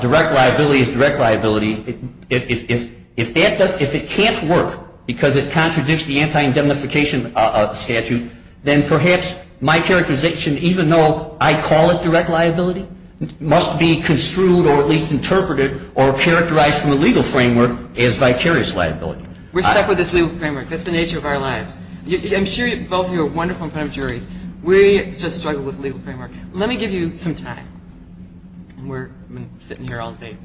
direct liability as direct liability, if it can't work because it contradicts the Anti-Indemnification Statute, then perhaps my characterization, even though I call it direct liability, must be construed or at least interpreted or characterized from a legal framework as vicarious liability. We're stuck with this legal framework. That's the nature of our lives. I'm sure both of you are wonderful in front of juries. We just struggle with legal framework. Let me give you some time. We're sitting here all day.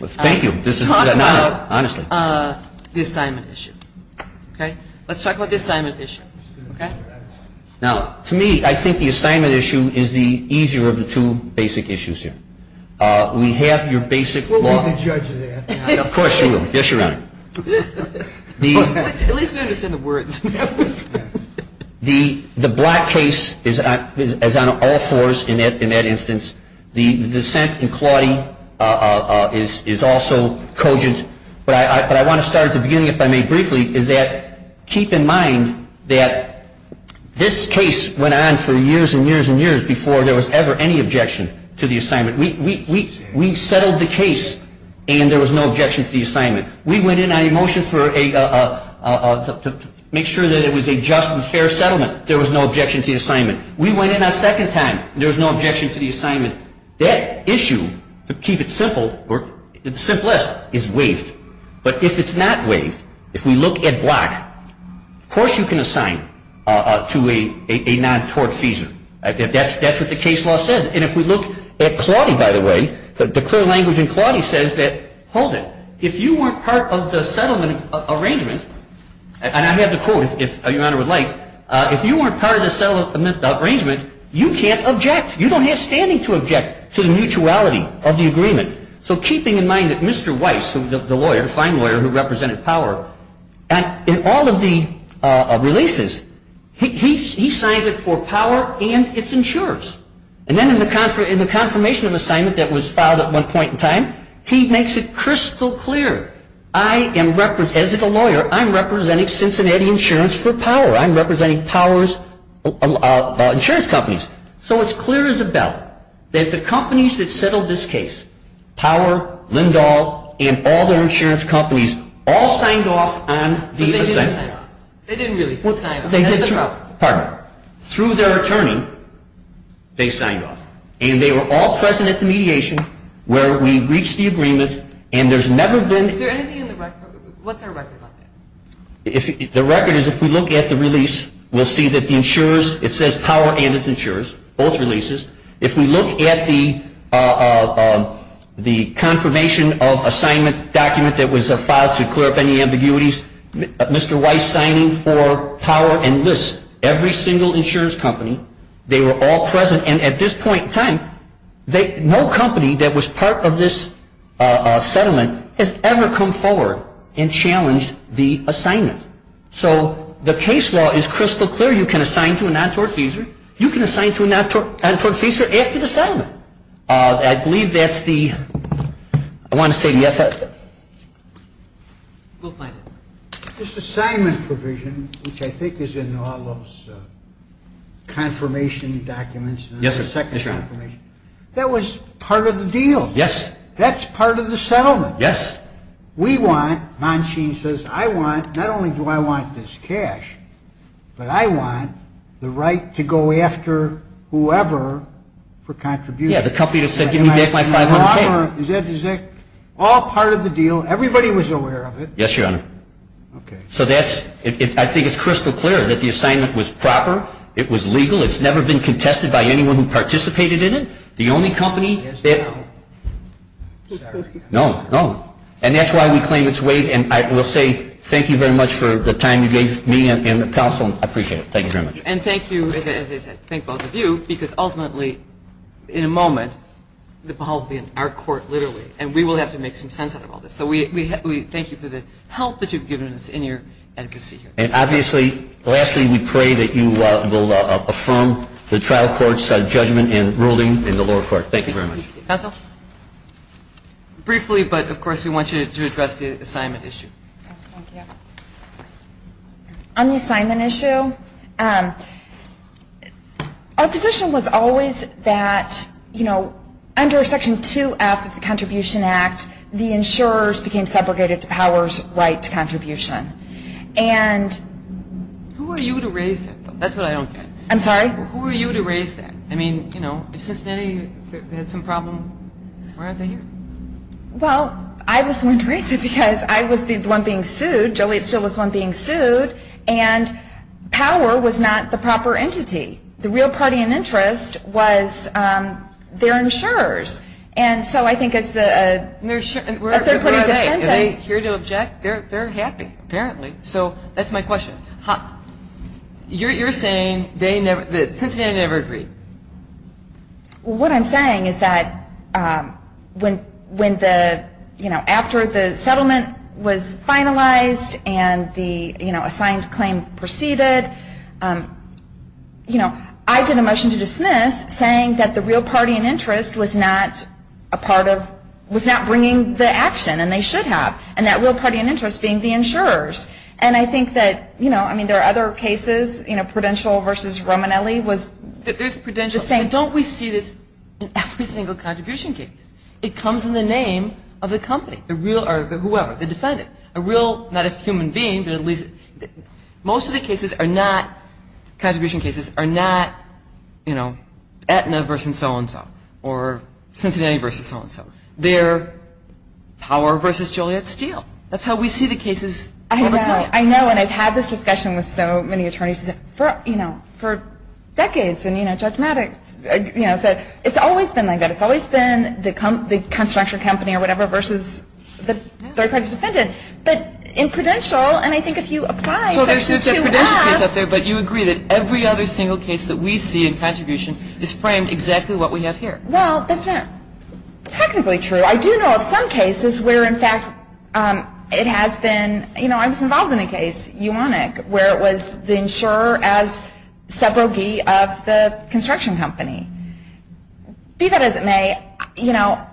Thank you. This is an honor, honestly. Let's talk about the assignment issue. Okay? Let's talk about the assignment issue. Okay? Now, to me, I think the assignment issue is the easier of the two basic issues here. We have your basic law. We'll be the judge of that. Of course you will. Yes, Your Honor. At least we understand the words. The Blatt case is on all fours in that instance. The dissent in Claudie is also cogent. But I want to start at the beginning, if I may briefly, is that keep in mind that this case went on for years and years and years before there was ever any objection to the assignment. We settled the case and there was no objection to the assignment. We went in on a motion to make sure that it was a just and fair settlement. There was no objection to the assignment. We went in a second time. There was no objection to the assignment. That issue, to keep it simple or simplest, is waived. But if it's not waived, if we look at Blatt, of course you can assign to a non-tortfeasor. That's what the case law says. And if we look at Claudie, by the way, the clear language in Claudie says that, hold it, if you weren't part of the settlement arrangement, and I have the quote, if Your Honor would like, if you weren't part of the settlement arrangement, you can't object. You don't have standing to object to the mutuality of the agreement. So keeping in mind that Mr. Weiss, the lawyer, the fine lawyer who represented Power, in all of the releases, he signs it for Power and its insurers. And then in the confirmation of the assignment that was filed at one point in time, he makes it crystal clear, as a lawyer, I'm representing Cincinnati Insurance for Power. I'm representing Power's insurance companies. So it's clear as a bell that the companies that settled this case, Power, Lindahl, and all their insurance companies, all signed off on the assignment. They didn't really sign off. Pardon me. Through their attorney, they signed off. And they were all present at the mediation where we reached the agreement, and there's never been – Is there anything in the record? What's our record on that? The record is if we look at the release, we'll see that the insurers, it says Power and its insurers, both releases. If we look at the confirmation of assignment document that was filed to clear up any ambiguities, Mr. Weiss signing for Power enlists every single insurance company. They were all present, and at this point in time, no company that was part of this settlement has ever come forward and challenged the assignment. So the case law is crystal clear. You can assign to a non-tortfeasor. You can assign to a non-tortfeasor after the settlement. I believe that's the – I want to say the – We'll find it. This assignment provision, which I think is in all those confirmation documents, the second confirmation, that was part of the deal. Yes. That's part of the settlement. Yes. We want – Manchin says, I want – not only do I want this cash, but I want the right to go after whoever for contribution. Yeah, the company that said give me back my 500K. Is that all part of the deal? Everybody was aware of it. Yes, Your Honor. Okay. So that's – I think it's crystal clear that the assignment was proper. It was legal. It's never been contested by anyone who participated in it. The only company that – Yes, Your Honor. Sorry. No, no. And that's why we claim its weight, and I will say thank you very much for the time you gave me and the counsel. I appreciate it. Thank you very much. And thank you, as I said, thank both of you, because ultimately in a moment the ball will be in our court literally, and we will have to make some sense out of all this. So we thank you for the help that you've given us in your advocacy here. And obviously, lastly, we pray that you will affirm the trial court's judgment and ruling in the lower court. Thank you very much. Briefly, but, of course, we want you to address the assignment issue. Yes, thank you. On the assignment issue, our position was always that, you know, under Section 2F of the Contribution Act, the insurers became segregated to powers right to contribution. Who are you to raise that? That's what I don't get. I'm sorry? Who are you to raise that? I mean, you know, if Cincinnati had some problem, why aren't they here? Well, I was the one to raise it because I was the one being sued. Joliet still was the one being sued. And power was not the proper entity. The real party in interest was their insurers. And so I think it's the they're pretty dependent. If they're here to object, they're happy, apparently. So that's my question. You're saying that Cincinnati never agreed. Well, what I'm saying is that when the, you know, after the settlement was finalized and the assigned claim proceeded, you know, I did a motion to dismiss saying that the real party in interest was not a part of was not bringing the action, and they should have, and that real party in interest being the insurers. And I think that, you know, I mean, there are other cases, you know, Prudential versus Romanelli was the same. There's Prudential. Don't we see this in every single contribution case? It comes in the name of the company, the real or whoever, the defendant, a real, not a human being, but at least most of the cases are not, contribution cases are not, you know, Aetna versus so-and-so or Cincinnati versus so-and-so. They're Power versus Joliet Steel. That's how we see the cases all the time. I know, and I've had this discussion with so many attorneys for, you know, for decades, and, you know, Judge Maddox, you know, said it's always been like that. It's always been the construction company or whatever versus the third-party defendant. But in Prudential, and I think if you apply Section 2.5. So there's a Prudential case out there, but you agree that every other single case that we see in contribution is framed exactly what we have here. Well, that's not technically true. I do know of some cases where, in fact, it has been, you know, I was involved in a case, Uonic, where it was the insurer as subrogee of the construction company. Be that as it may, you know,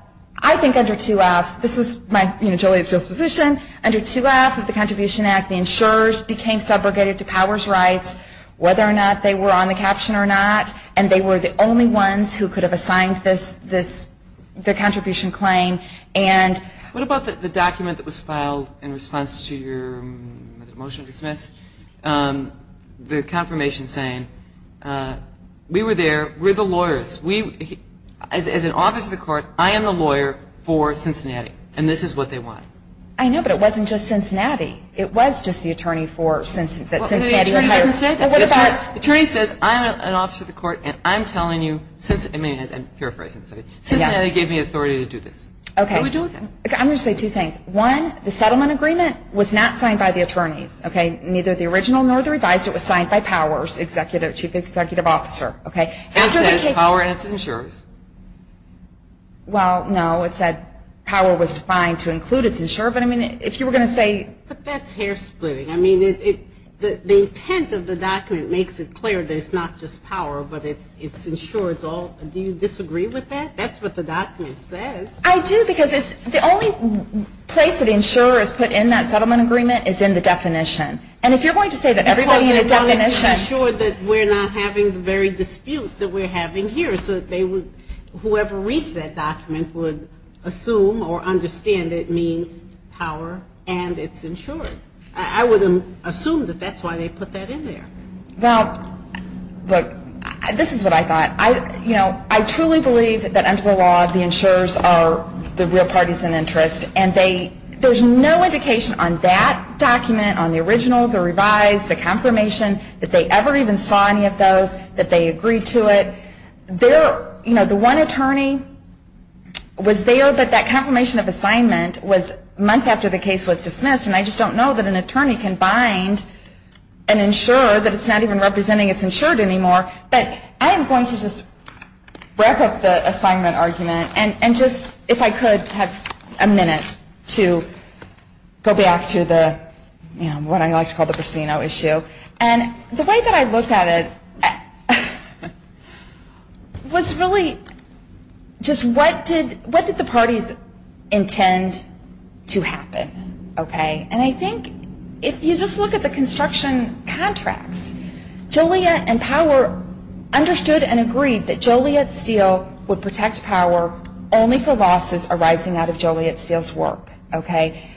I think under 2F, this was my, you know, Joliet Steel's position, under 2F of the Contribution Act, the insurers became subrogated to powers rights, whether or not they were on the caption or not, and they were the only ones who could have assigned this, the contribution claim, and. What about the document that was filed in response to your motion to dismiss, the confirmation saying, we were there, we're the lawyers, as an office of the court, I am the lawyer for Cincinnati, and this is what they want. I know, but it wasn't just Cincinnati. It was just the attorney for Cincinnati. Well, the attorney doesn't say that. Well, what about. The attorney says, I'm an office of the court, and I'm telling you, I'm paraphrasing, Cincinnati gave me authority to do this. Okay. What do we do with that? I'm going to say two things. One, the settlement agreement was not signed by the attorneys, okay, neither the original nor the revised. It was signed by powers, chief executive officer, okay. And it says power and it's insurers. Well, no, it said power was defined to include its insurer, but I mean, if you were going to say. But that's hair splitting. I mean, the intent of the document makes it clear that it's not just power, but it's insurers all. Do you disagree with that? That's what the document says. I do, because it's the only place that insurers put in that settlement agreement is in the definition. And if you're going to say that everybody in the definition. I want to ensure that we're not having the very dispute that we're having here, so that they would, whoever reads that document, would assume or understand it means power and it's insured. I would assume that that's why they put that in there. Well, look, this is what I thought. You know, I truly believe that under the law, the insurers are the real parties in interest. And there's no indication on that document, on the original, the revised, the confirmation, that they ever even saw any of those, that they agreed to it. You know, the one attorney was there, but that confirmation of assignment was months after the case was dismissed. And I just don't know that an attorney can bind an insurer that it's not even representing it's insured anymore. But I am going to just wrap up the assignment argument and just, if I could, have a minute to go back to the, you know, what I like to call the prosceno issue. And the way that I looked at it was really just what did the parties intend to happen? Okay. And I think if you just look at the construction contracts, Joliet and Power understood and agreed that Joliet Steel would protect Power only for losses arising out of Joliet Steel's work. Okay.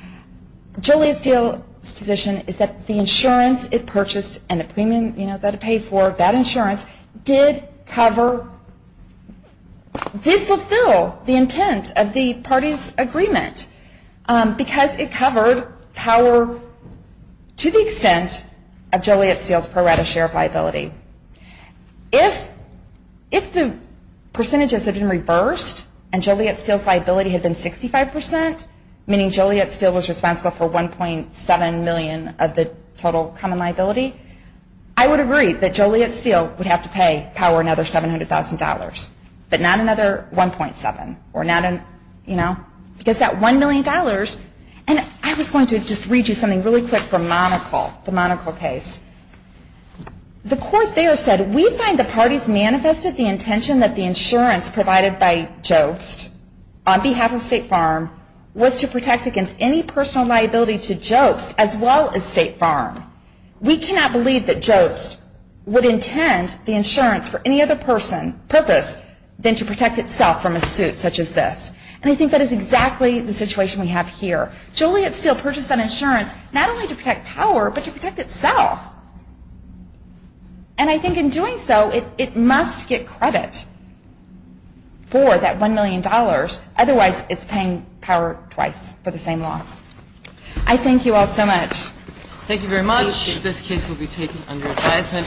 Joliet Steel's position is that the insurance it purchased and the premium that it paid for, that insurance, did cover, did fulfill the intent of the parties' agreement because it covered Power to the extent of Joliet Steel's pro rata share of liability. If the percentages had been reversed and Joliet Steel's liability had been 65%, meaning Joliet Steel was responsible for $1.7 million of the total common liability, I would agree that Joliet Steel would have to pay Power another $700,000, but not another $1.7 or not another, you know, because that $1 million. And I was going to just read you something really quick from Monocle, the Monocle case. The court there said, We find the parties manifested the intention that the insurance provided by Jobst on behalf of State Farm was to protect against any personal liability to Jobst as well as State Farm. We cannot believe that Jobst would intend the insurance for any other purpose than to protect itself from a suit such as this. And I think that is exactly the situation we have here. Joliet Steel purchased that insurance not only to protect Power but to protect itself. And I think in doing so, it must get credit for that $1 million, otherwise it's paying Power twice for the same loss. I thank you all so much. Thank you very much. This case will be taken under advisement.